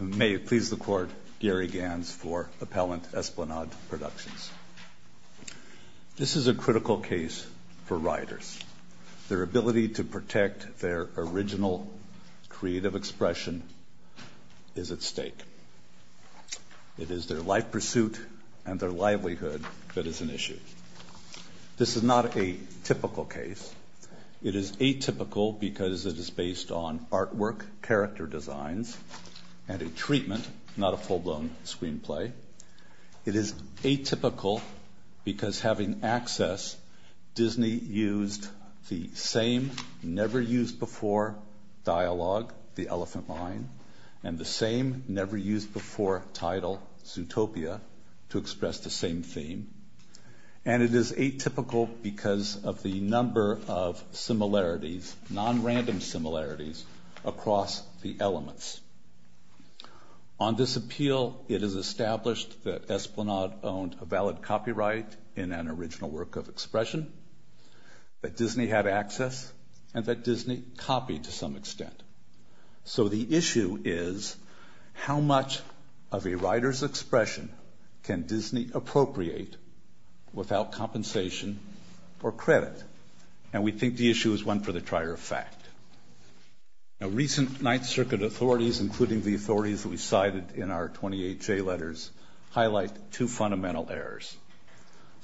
May it please the Court, Gary Gans for Appellant Esplanade Productions. This is a critical case for riders. Their ability to protect their original creative expression is at stake. It is their life pursuit and their livelihood that is an issue. This is not a typical case. It is atypical because it is based on artwork, character designs, and a treatment, not a full-blown screenplay. It is atypical because having access, Disney used the same never-used-before dialogue, The Elephant Mine, and the same never-used-before title, Zootopia, to express the same theme. And it is atypical because of the number of similarities, non-random similarities, across the elements. On this appeal, it is established that Esplanade owned a valid copyright in an original work of expression, that Disney had access, and that Disney copied to some extent. So the issue is, how much of a rider's expression can Disney appropriate without compensation or credit? And we think the issue is one for the trier of fact. Now, recent Ninth Circuit authorities, including the authorities we cited in our 28 J letters, highlight two fundamental errors.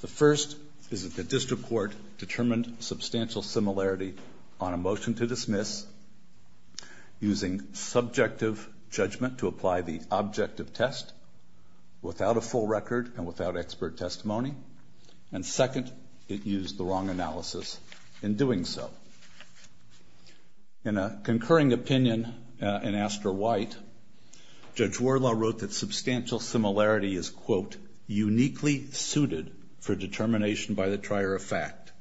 The first is that the district court determined substantial similarity on a motion to dismiss, using subjective judgment to apply the objective test, without a full record and without expert testimony. And second, it used the wrong analysis in doing so. In a concurring opinion in Astor White, Judge Wardlaw wrote that substantial similarity is, quote, uniquely suited for determination by the trier of fact,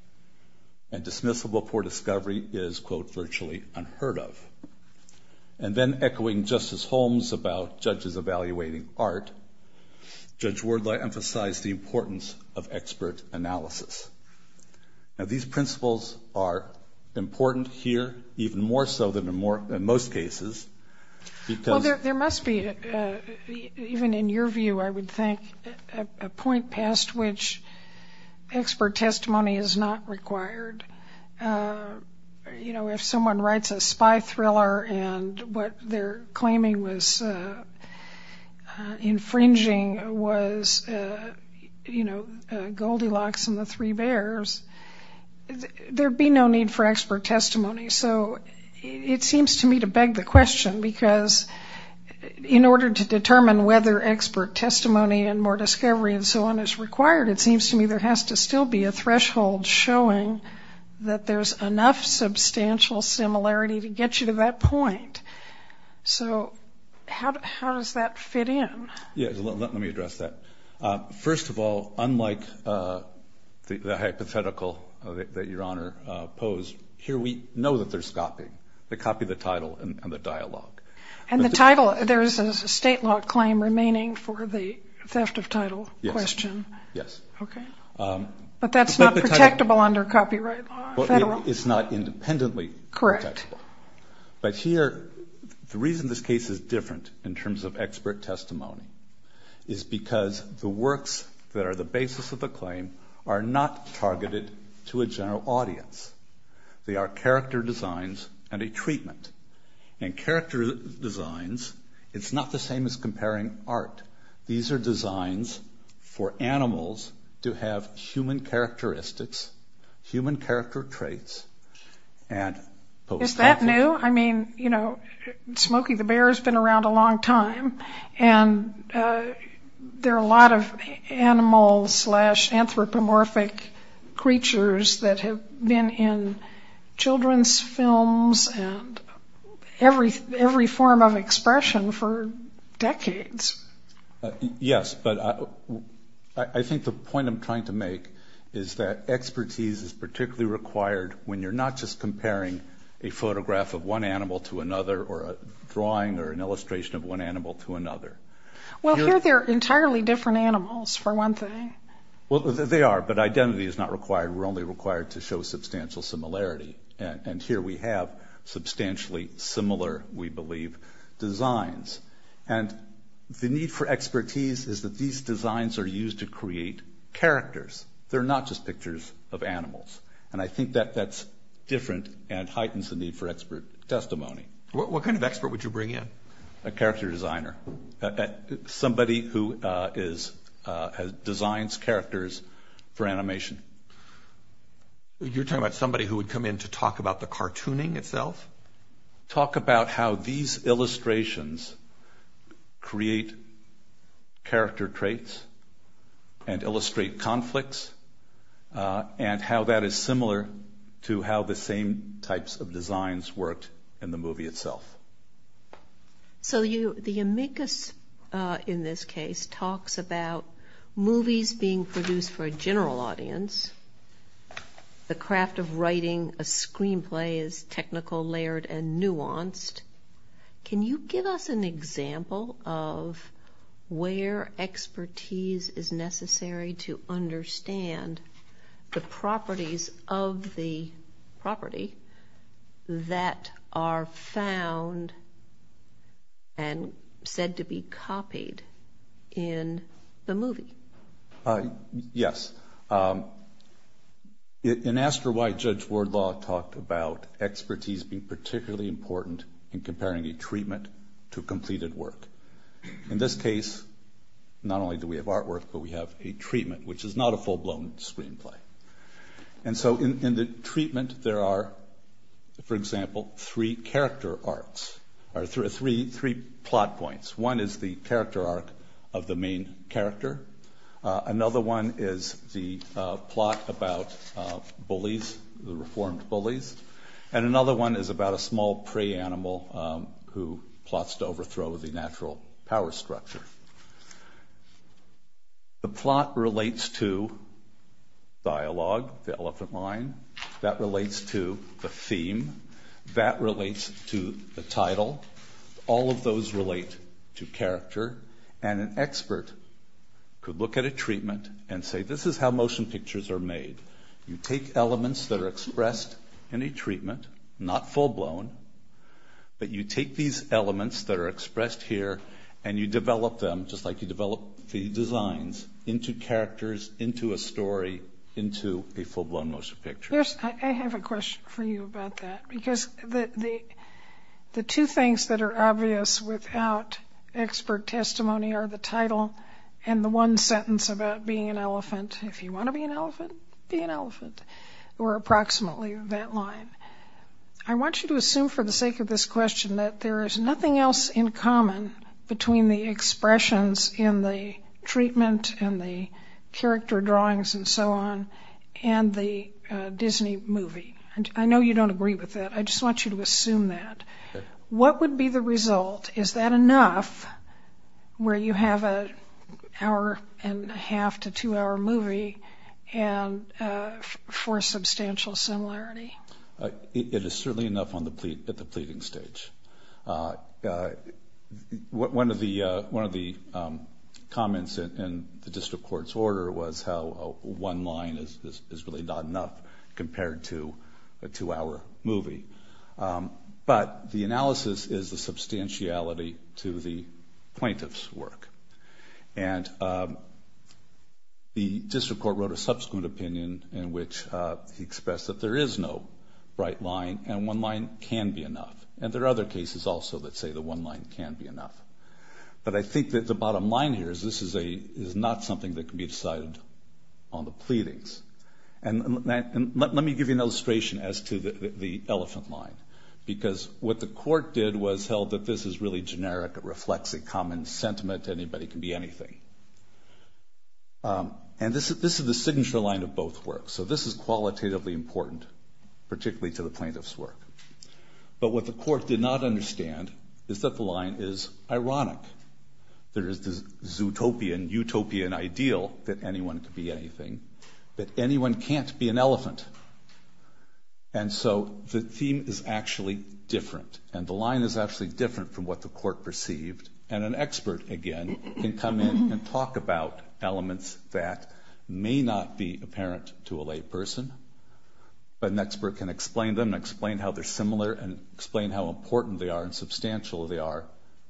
and dismissible for discovery is, quote, virtually unheard of. And then echoing Justice Holmes about judges evaluating art, Judge Wardlaw emphasized the importance of expert analysis. Now, these principles are important here, even more so than in most cases. Well, there must be, even in your view, I would think, a point past which expert testimony is not required. You know, if someone writes a spy thriller and what they're claiming was infringing was, you know, Goldilocks and the Three Bears, there'd be no need for expert testimony. So it seems to me to beg the question, because in order to determine whether expert testimony and more discovery and so on is required, it seems to me there has to still be a threshold showing that there's enough substantial similarity to get you to that point. So how does that fit in? Yes, let me address that. First of all, unlike the hypothetical that Your Honor posed, here we know that there's copying. They copy the title and the dialogue. And the title, there is a state law claim remaining for the theft of title question. Yes. Okay. But that's not protectable under copyright law? It's not independently protectable. Correct. But here, the reason this case is different in terms of expert testimony is because the works that are the basis of the claim are not targeted to a general audience. They are character designs and a treatment. And character designs, it's not the same as comparing art. These are designs for animals to have human characteristics, human character traits. Is that new? I mean, you know, Smokey the Bear has been around a long time, and there are a lot of animal-slash-anthropomorphic creatures that have been in children's films and every form of expression for decades. Yes, but I think the point I'm trying to make is that expertise is particularly required when you're not just comparing a photograph of one animal to another or a drawing or an illustration of one animal to another. Well, here they're entirely different animals, for one thing. Well, they are, but identity is not required. We're only required to show substantial similarity. And here we have substantially similar, we believe, designs. And the need for expertise is that these designs are used to create characters. They're not just pictures of animals. And I think that that's different and heightens the need for expert testimony. What kind of expert would you bring in? A character designer, somebody who designs characters for animation. You're talking about somebody who would come in to talk about the cartooning itself? Talk about how these illustrations create character traits and illustrate conflicts and how that is similar to how the same types of designs worked in the movie itself. So the amicus, in this case, talks about movies being produced for a general audience, the craft of writing a screenplay is technical, layered, and nuanced. Can you give us an example of where expertise is necessary to understand the properties of the property that are found and said to be copied in the movie? Yes. In Astor, White, Judge Wardlaw talked about expertise being particularly important in comparing a treatment to completed work. In this case, not only do we have artwork, but we have a treatment, which is not a full-blown screenplay. And so in the treatment, there are, for example, three character arcs, or three plot points. One is the character arc of the main character. Another one is the plot about bullies, the reformed bullies. And another one is about a small prey animal who plots to overthrow the natural power structure. The plot relates to dialogue, the elephant line. That relates to the theme. That relates to the title. All of those relate to character. And an expert could look at a treatment and say, this is how motion pictures are made. You take elements that are expressed in a treatment, not full-blown, but you take these elements that are expressed here and you develop them, just like you develop the designs, into characters, into a story, into a full-blown motion picture. I have a question for you about that, because the two things that are obvious without expert testimony are the title and the one sentence about being an elephant. If you want to be an elephant, be an elephant, or approximately that line. I want you to assume for the sake of this question that there is nothing else in common between the expressions in the treatment and the character drawings and so on and the Disney movie. I know you don't agree with that. I just want you to assume that. What would be the result? Is that enough where you have an hour-and-a-half to two-hour movie for substantial similarity? It is certainly enough at the pleading stage. One of the comments in the district court's order was how one line is really not enough compared to a two-hour movie. But the analysis is the substantiality to the plaintiff's work. And the district court wrote a subsequent opinion in which he expressed that there is no right line and one line can be enough. And there are other cases also that say the one line can be enough. But I think that the bottom line here is this is not something that can be decided on the pleadings. Let me give you an illustration as to the elephant line, because what the court did was held that this is really generic. It reflects a common sentiment. Anybody can be anything. And this is the signature line of both works. So this is qualitatively important, particularly to the plaintiff's work. But what the court did not understand is that the line is ironic. There is this zootopian, utopian ideal that anyone can be anything, that anyone can't be an elephant. And so the theme is actually different, and the line is actually different from what the court perceived. And an expert, again, can come in and talk about elements that may not be apparent to a lay person, but an expert can explain them and explain how they're similar and explain how important they are and substantial they are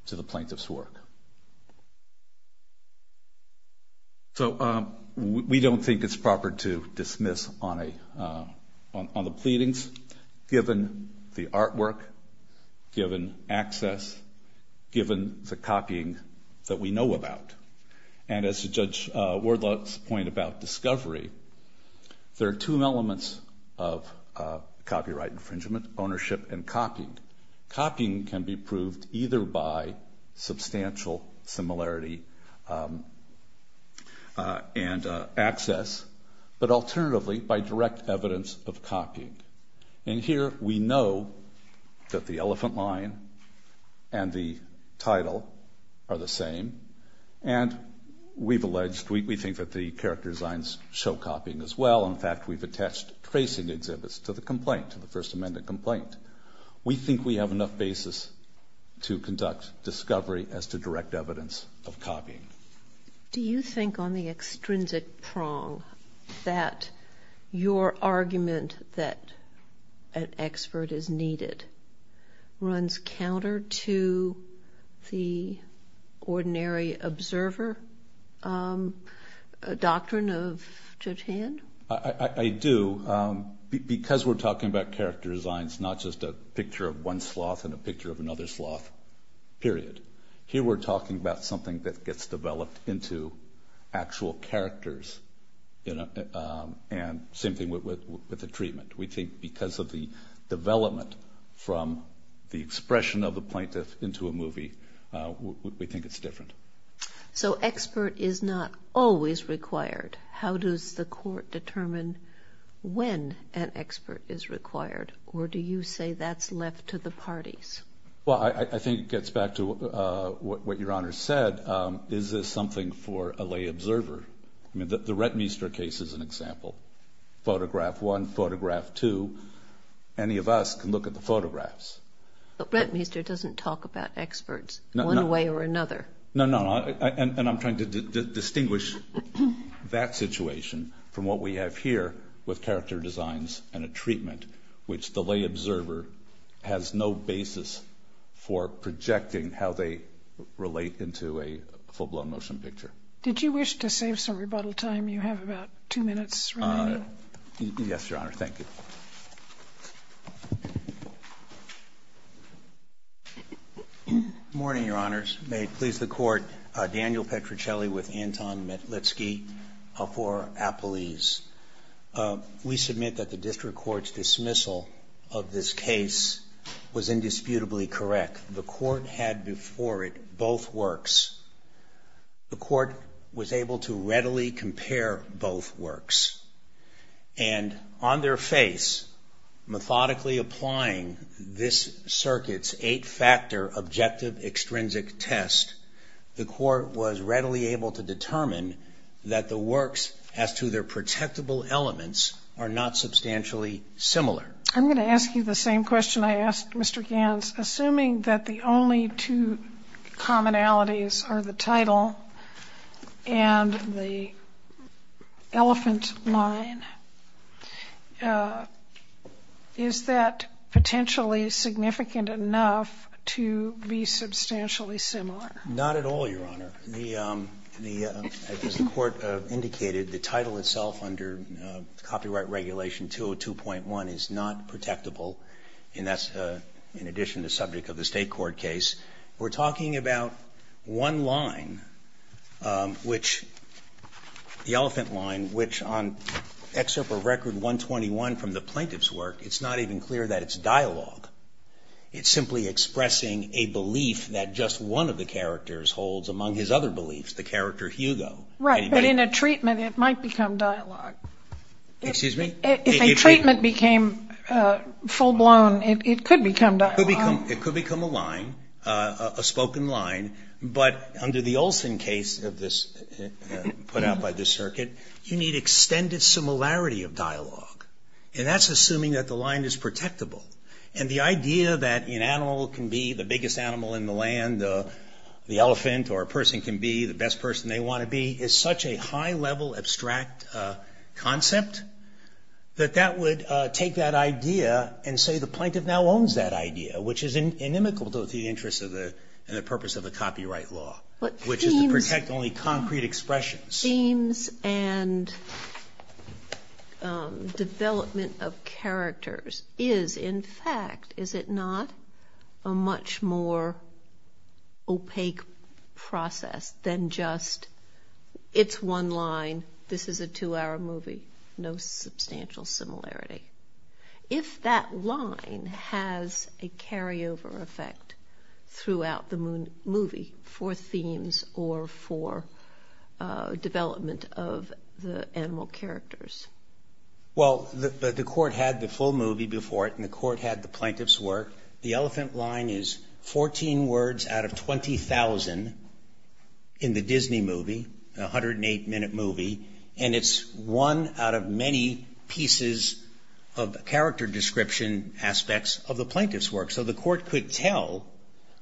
to the plaintiff's work. So we don't think it's proper to dismiss on the pleadings, given the artwork, given access, given the copying that we know about. And as Judge Wardlaw's point about discovery, there are two elements of copyright infringement, ownership and copying. Copying can be proved either by substantial similarity and access, but alternatively by direct evidence of copying. And here we know that the elephant line and the title are the same, and we've alleged, we think that the character designs show copying as well. In fact, we've attached tracing exhibits to the complaint, to the First Amendment complaint. We think we have enough basis to conduct discovery as to direct evidence of copying. Do you think on the extrinsic prong that your argument that an expert is needed runs counter to the ordinary observer doctrine of Judge Hand? I do, because we're talking about character designs, not just a picture of one sloth and a picture of another sloth, period. Here we're talking about something that gets developed into actual characters, and same thing with the treatment. We think because of the development from the expression of the plaintiff into a movie, we think it's different. So expert is not always required. How does the court determine when an expert is required, or do you say that's left to the parties? Well, I think it gets back to what your Honor said. Is this something for a lay observer? I mean, the Rettmeister case is an example. Photograph one, photograph two, any of us can look at the photographs. But Rettmeister doesn't talk about experts one way or another. No, no, and I'm trying to distinguish that situation from what we have here with character designs and a treatment, which the lay observer has no basis for projecting how they relate into a full-blown motion picture. Did you wish to save some rebuttal time? You have about two minutes remaining. Yes, Your Honor. Thank you. Good morning, Your Honors. May it please the Court, Daniel Petruccelli with Anton Metlitsky for Appelese. We submit that the district court's dismissal of this case was indisputably correct. The court had before it both works. The court was able to readily compare both works. And on their face, methodically applying this circuit's eight-factor objective extrinsic test, the court was readily able to determine that the works as to their protectable elements are not substantially similar. I'm going to ask you the same question I asked Mr. Ganz, assuming that the only two commonalities are the title and the elephant line, is that potentially significant enough to be substantially similar? Not at all, Your Honor. As the court indicated, the title itself under copyright regulation 202.1 is not protectable, and that's in addition to the subject of the state court case. We're talking about one line, which the elephant line, which on excerpt of Record 121 from the plaintiff's work, it's not even clear that it's dialogue. It's simply expressing a belief that just one of the characters holds among his other beliefs, the character Hugo. Right. But in a treatment, it might become dialogue. Excuse me? If a treatment became full-blown, it could become dialogue? It could become a line, a spoken line, but under the Olson case put out by this circuit, you need extended similarity of dialogue, and that's assuming that the line is protectable, and the idea that an animal can be the biggest animal in the land, the elephant, or a person can be the best person they want to be is such a high-level abstract concept that that would take that idea and say the plaintiff now owns that idea, which is inimical to the interests and the purpose of the copyright law, which is to protect only concrete expressions. Themes and development of characters is, in fact, is it not, a much more opaque process than just it's one line, this is a two-hour movie, no substantial similarity. If that line has a carryover effect throughout the movie for themes or for development of the animal characters? Well, the court had the full movie before it, and the court had the plaintiff's work. The elephant line is 14 words out of 20,000 in the Disney movie, a 108-minute movie, and it's one out of many pieces of character description aspects of the plaintiff's work, so the court could tell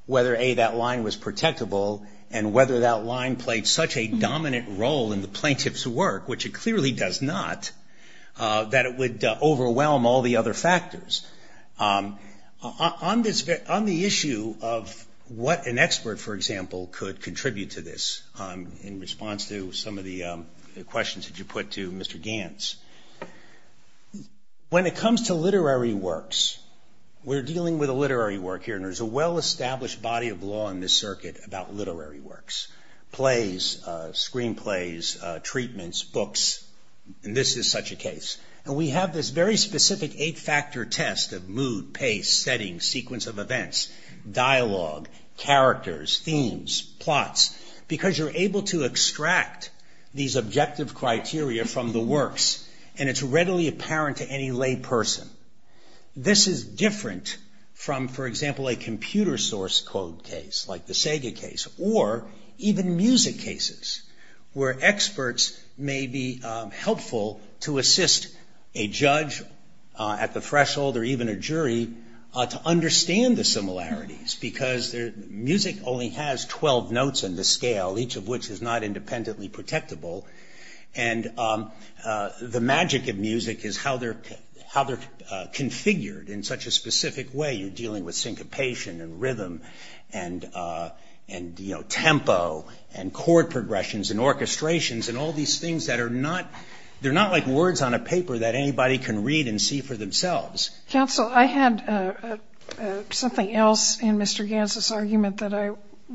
whether, A, that line was protectable, and whether that line played such a dominant role in the plaintiff's work, which it clearly does not, that it would overwhelm all the other factors. On the issue of what an expert, for example, could contribute to this, in response to some of the questions that you put to Mr. Ganz, when it comes to literary works, we're dealing with a literary work here, and there's a well-established body of law in this circuit about literary works, plays, screen plays, treatments, books, and this is such a case, and we have this very specific eight-factor test of mood, pace, setting, sequence of events, dialogue, characters, themes, plots, because you're able to extract these objective criteria from the works, and it's readily apparent to any lay person. This is different from, for example, a computer source code case, like the Sega case, or even music cases, where experts may be helpful to assist a judge at the threshold, or even a jury, to understand the similarities, because music only has 12 notes in the scale, each of which is not independently protectable, and the magic of music is how they're configured in such a specific way. You're dealing with syncopation and rhythm, and tempo, and chord progressions, and orchestrations, and all these things that are not, they're not like words on a paper that anybody can read and see for themselves. Counsel, I had something else in Mr. Ganz's argument that I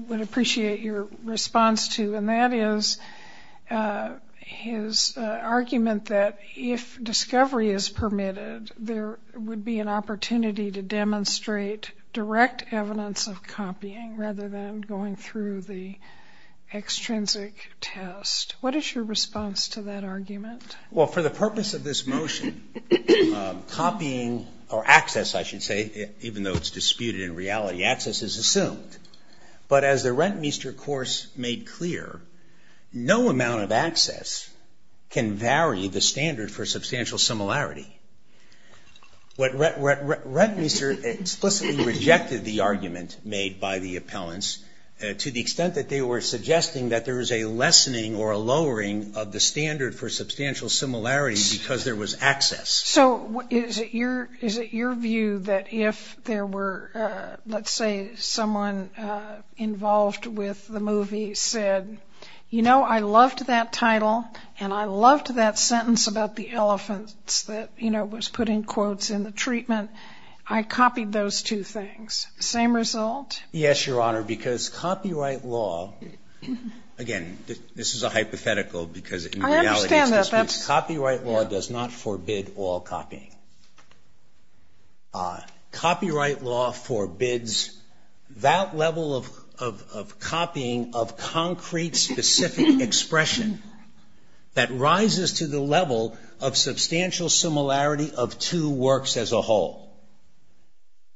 would appreciate your response to, and that is his argument that if discovery is permitted, there would be an opportunity to demonstrate direct evidence of copying, rather than going through the extrinsic test. What is your response to that argument? Well, for the purpose of this motion, copying, or access, I should say, even though it's disputed in reality, access is assumed, but as the Rentmeester course made clear, no amount of access can vary the standard Rentmeester explicitly rejected the argument made by the appellants, to the extent that they were suggesting that there was a lessening or a lowering of the standard for substantial similarity because there was access. So, is it your view that if there were, let's say, someone involved with the movie said, you know, I loved that title, and I loved that sentence about the elephants that, you know, was put in quotes in the treatment, I copied those two things. Same result? Yes, Your Honor, because copyright law, again, this is a hypothetical, because in reality, copyright law does not forbid all copying. Copyright law forbids that level of copying of concrete, specific expression that rises to the level of substantial similarity of two works as a whole.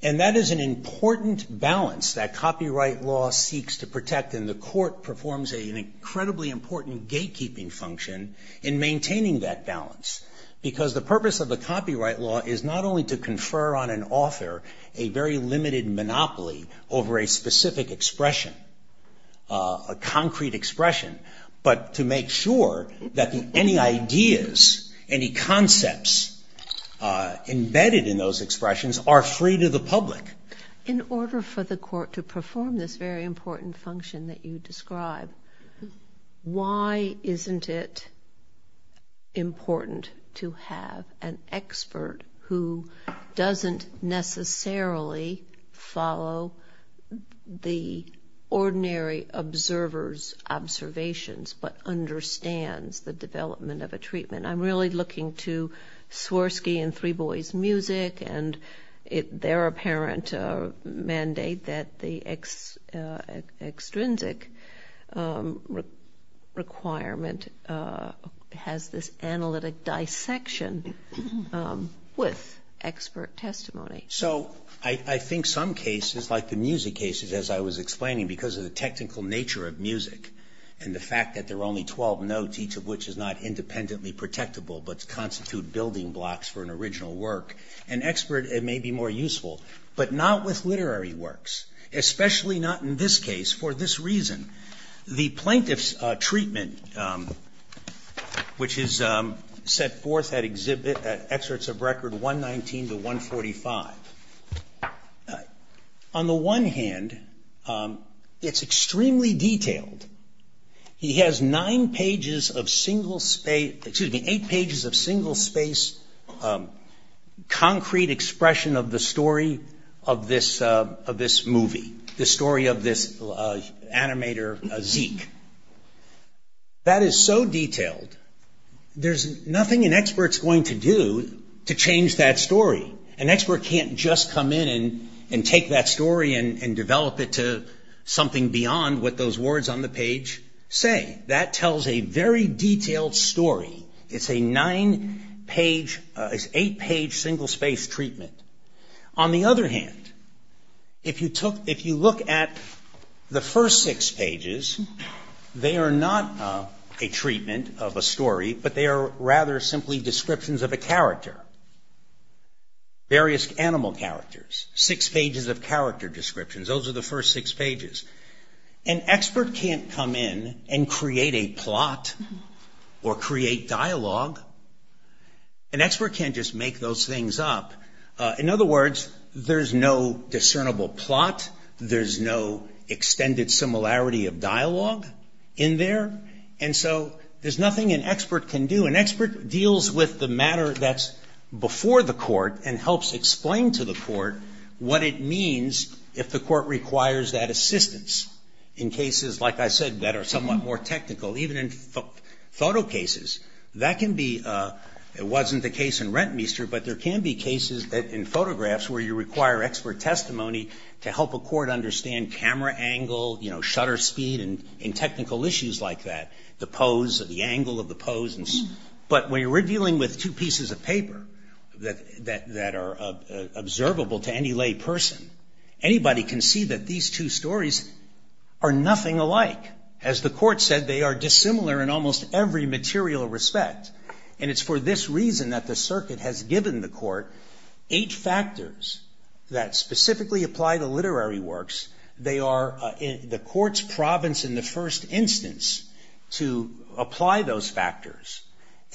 And that is an important balance that copyright law seeks to protect, and the court performs an incredibly important gatekeeping function in maintaining that balance, because the purpose of the copyright law is not only to confer on an author a very limited monopoly over a specific expression, a concrete expression, but to make sure that any ideas, any concepts embedded in those expressions are free to the public. In order for the court to perform this very important function that you describe, why isn't it important to have an expert who doesn't necessarily follow the ordinary observer's observation? But understands the development of a treatment? I'm really looking to Swirsky and Three Boys Music, and their apparent mandate that the extrinsic requirement has this analytic dissection with expert testimony. So, I think some cases, like the music cases, as I was explaining, because of the technical nature of music, and the fact that there are only 12 notes, each of which is not independently protectable, but constitute building blocks for an original work, an expert may be more useful, but not with literary works, especially not in this case, for this reason. The plaintiff's treatment, which is set forth at excerpts of record 119 to 145, on the one hand, it's extremely detailed. He has nine pages of single space, excuse me, eight pages of single space, concrete expression of the story of this movie, the story of this animator, Zeke. That is so detailed, there's nothing an expert's going to do to change that story. An expert can't just come in and take that story and develop it to something beyond what those words on the page say. That tells a very detailed story. It's a nine page, eight page single space treatment. On the other hand, if you look at the first six pages, they are not a treatment of a story, but they are rather simply descriptions of a character, various animal characters. Six pages of character descriptions, those are the first six pages. An expert can't come in and create a plot or create dialogue. An expert can't just make those things up. In other words, there's no discernible plot, there's no extended similarity of dialogue in there, and so there's nothing an expert can do. An expert deals with the matter that's before the court and helps explain to the court what it means if the court requires that assistance in cases, like I said, that are somewhat more technical, even in photo cases. That can be, it wasn't the case in Rentmeester, but there can be cases in photographs where you require expert testimony to help a court understand camera angle, shutter speed, and technical issues like that, the pose, the angle of the pose. But when you're dealing with two pieces of paper that are observable to any lay person, anybody can see that these two stories are nothing alike. As the court said, they are dissimilar in almost every material respect. And it's for this reason that the circuit has given the court eight factors that specifically apply to literary works. They are the court's province in the first instance to apply those factors.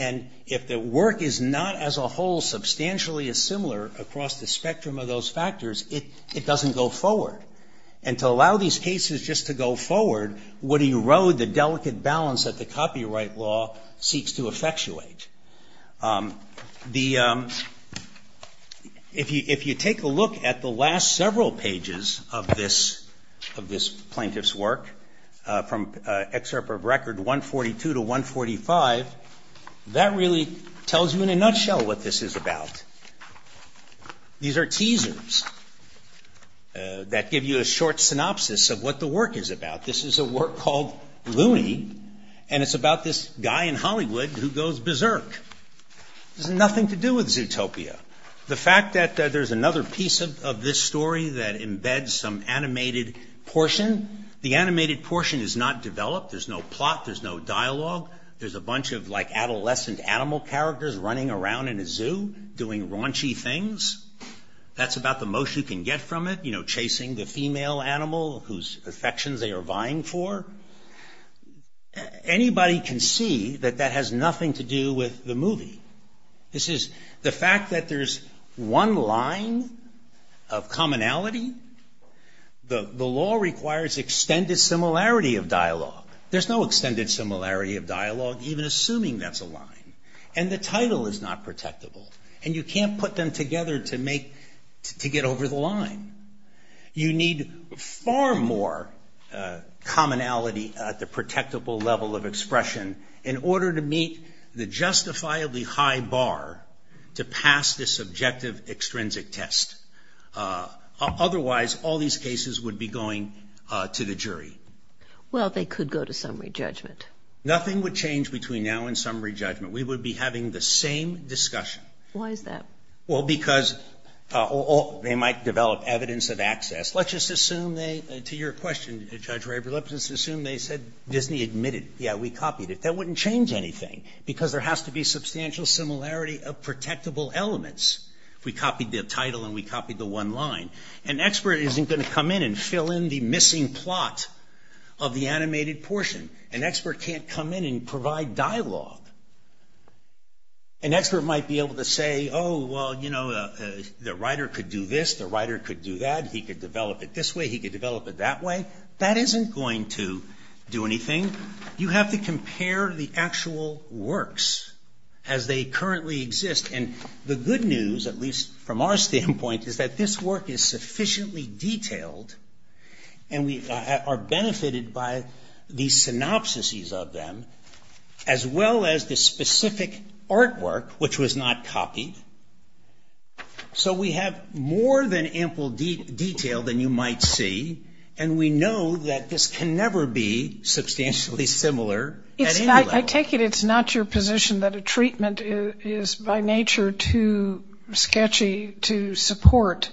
And if the work is not as a whole substantially as similar across the spectrum of those factors, it doesn't go forward. And to allow these cases just to go forward would erode the delicate balance that the copyright law seeks to effectuate. If you take a look at the last several pages of this plaintiff's work, from excerpt of record 142 to 145, that really tells you in a nutshell what this is about. These are teasers that give you a short synopsis of what the work is about. This is a work called Loony, and it's about this guy in Hollywood who goes berserk. This has nothing to do with Zootopia. The fact that there's another piece of this story that embeds some animated portion, the animated portion is not developed, there's no plot, there's no dialogue, there's a bunch of like adolescent animal characters running around in a zoo, doing raunchy things. That's about the most you can get from it. You know, chasing the female animal whose affections they are vying for. Anybody can see that that has nothing to do with the movie. This is the fact that there's one line of commonality. The law requires extended similarity of dialogue. There's no extended similarity of dialogue, even assuming that's a line. The title is not protectable, and you can't put them together to get over the line. You need far more commonality at the protectable level of expression in order to meet the justifiably high bar to pass this objective extrinsic test. Otherwise, all these cases would be going to the jury. Well, they could go to summary judgment. Nothing would change between now and summary judgment. We would be having the same discussion. Why is that? Well, because they might develop evidence of access. Let's just assume they, to your question, Judge Rayber, let's just assume they said Disney admitted, yeah, we copied it. That wouldn't change anything, because there has to be substantial similarity of protectable elements. We copied the title and we copied the one line. An expert isn't going to come in and fill in the missing plot of the animated portion. An expert can't come in and provide dialogue. An expert might be able to say, oh, well, you know, the writer could do this, the writer could do that, he could develop it this way, he could develop it that way. That isn't going to do anything. You have to compare the actual works as they currently exist, and the good news, at least from our standpoint, is that this work is sufficiently detailed, and we are aware of the synopses of them, as well as the specific artwork, which was not copied. So we have more than ample detail than you might see, and we know that this can never be substantially similar at any level. I take it it's not your position that a treatment is by nature too sketchy to support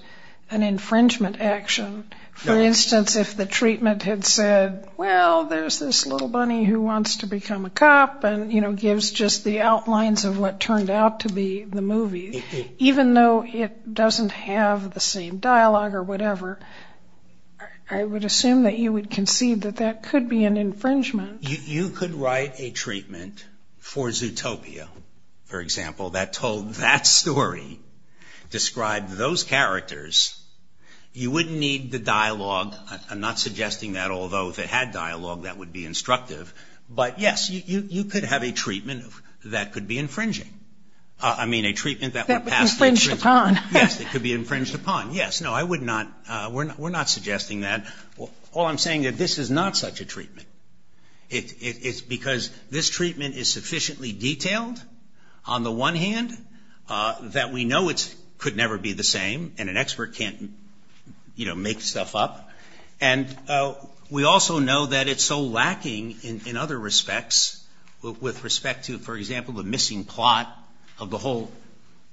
an infringement action. For instance, if the treatment had said, well, there's this little bunny who wants to become a cop, and gives just the outlines of what turned out to be the movie, even though it doesn't have the same dialogue or whatever, I would assume that you would concede that that could be an infringement. You could write a treatment for Zootopia, for example, that told that story, described those characters. You wouldn't need the dialogue, I'm not suggesting that, although if it had dialogue, that would be instructive. But, yes, you could have a treatment that could be infringing. I mean, a treatment that would pass... That would be infringed upon. Yes, it could be infringed upon, yes. No, I would not, we're not suggesting that. All I'm saying is that this is not such a treatment. It's because this treatment is sufficiently detailed, on the one hand, that we know it could never be the same, and an expert can't, you know, make stuff up, and we also know that it's so lacking in the way that it's described. In other respects, with respect to, for example, the missing plot of the whole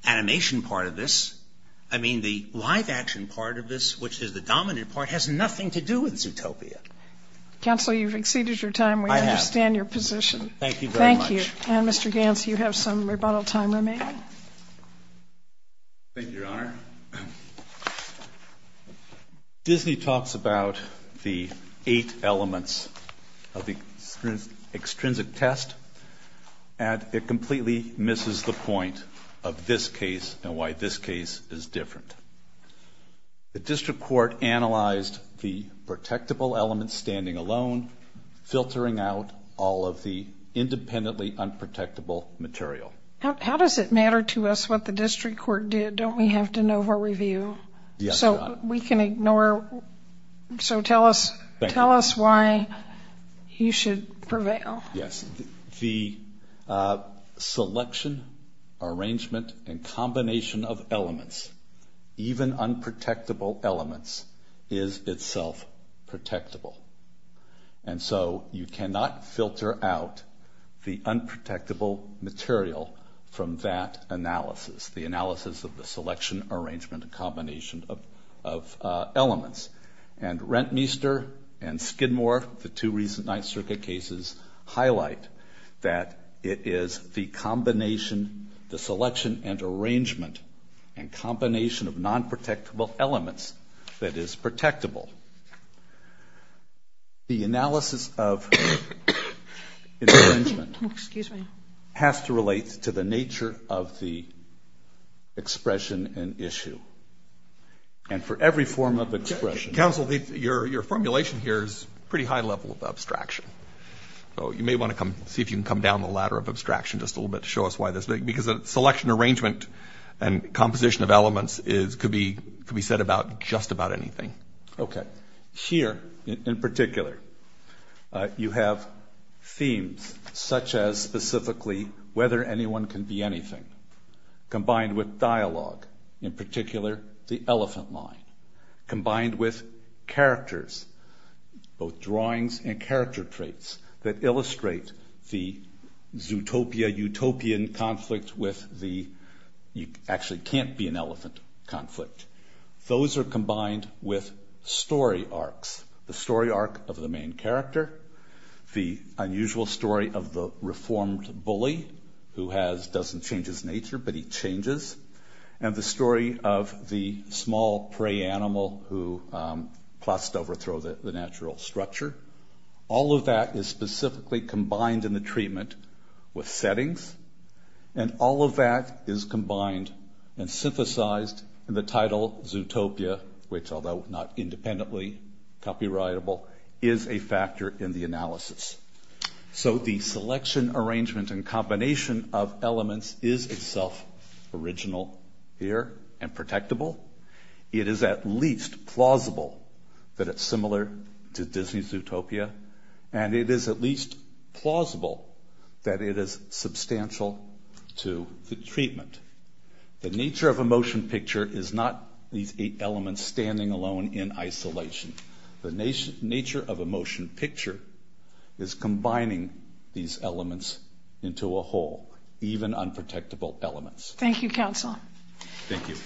animation part of this, I mean, the live action part of this, which is the dominant part, has nothing to do with Zootopia. Counsel, you've exceeded your time. We understand your position. I have. Thank you very much. Thank you. And, Mr. Gantz, you have some rebuttal time remaining. Thank you, Your Honor. Disney talks about the eight elements of the extrinsic test, and it completely misses the point of this case and why this case is different. The district court analyzed the protectable elements standing alone, filtering out all of the independently unprotectable material. How does it matter to us what the district court did? Don't we have to know for review? Yes, Your Honor. So we can ignore... So tell us why you should prevail. Yes. The selection, arrangement, and combination of elements, even unprotectable elements, is itself protectable. And so you cannot filter out the unprotectable material from that analysis, the analysis of the selection, arrangement, and combination of elements. And Rentmeester and Skidmore, the two recent Ninth Circuit cases, highlight that it is the combination, the selection and arrangement, and combination of nonprotectable elements that is protectable. The analysis of the arrangement has to relate to the nature of the expression and issue. And for every form of expression... Counsel, your formulation here is a pretty high level of abstraction. So you may want to come see if you can come down the ladder of abstraction just a little bit to show us why this is. Because selection, arrangement, and composition of elements could be said about just about anything. Okay. Here, in particular, you have themes such as, specifically, whether anyone can be anything. Combined with dialogue, in particular, the elephant line. Combined with characters, both drawings and character traits, that illustrate the Zootopia-Utopian conflict with the... Those are combined with story arcs. The story arc of the main character, the unusual story of the reformed bully, who has... Doesn't change his nature, but he changes. And the story of the small prey animal who plots to overthrow the natural structure. All of that is specifically combined in the treatment with settings. And all of that is combined and synthesized in the title, Zootopia, which, although not independently copyrightable, is a factor in the analysis. So the selection, arrangement, and combination of elements is itself original here and protectable. It is at least plausible that it's similar to Disney's Zootopia. And it is at least plausible that it is substantial to the treatment. The nature of a motion picture is not these eight elements standing alone in isolation. The nature of a motion picture is combining these elements into a whole, even unprotectable elements. Thank you, counsel. Thank you.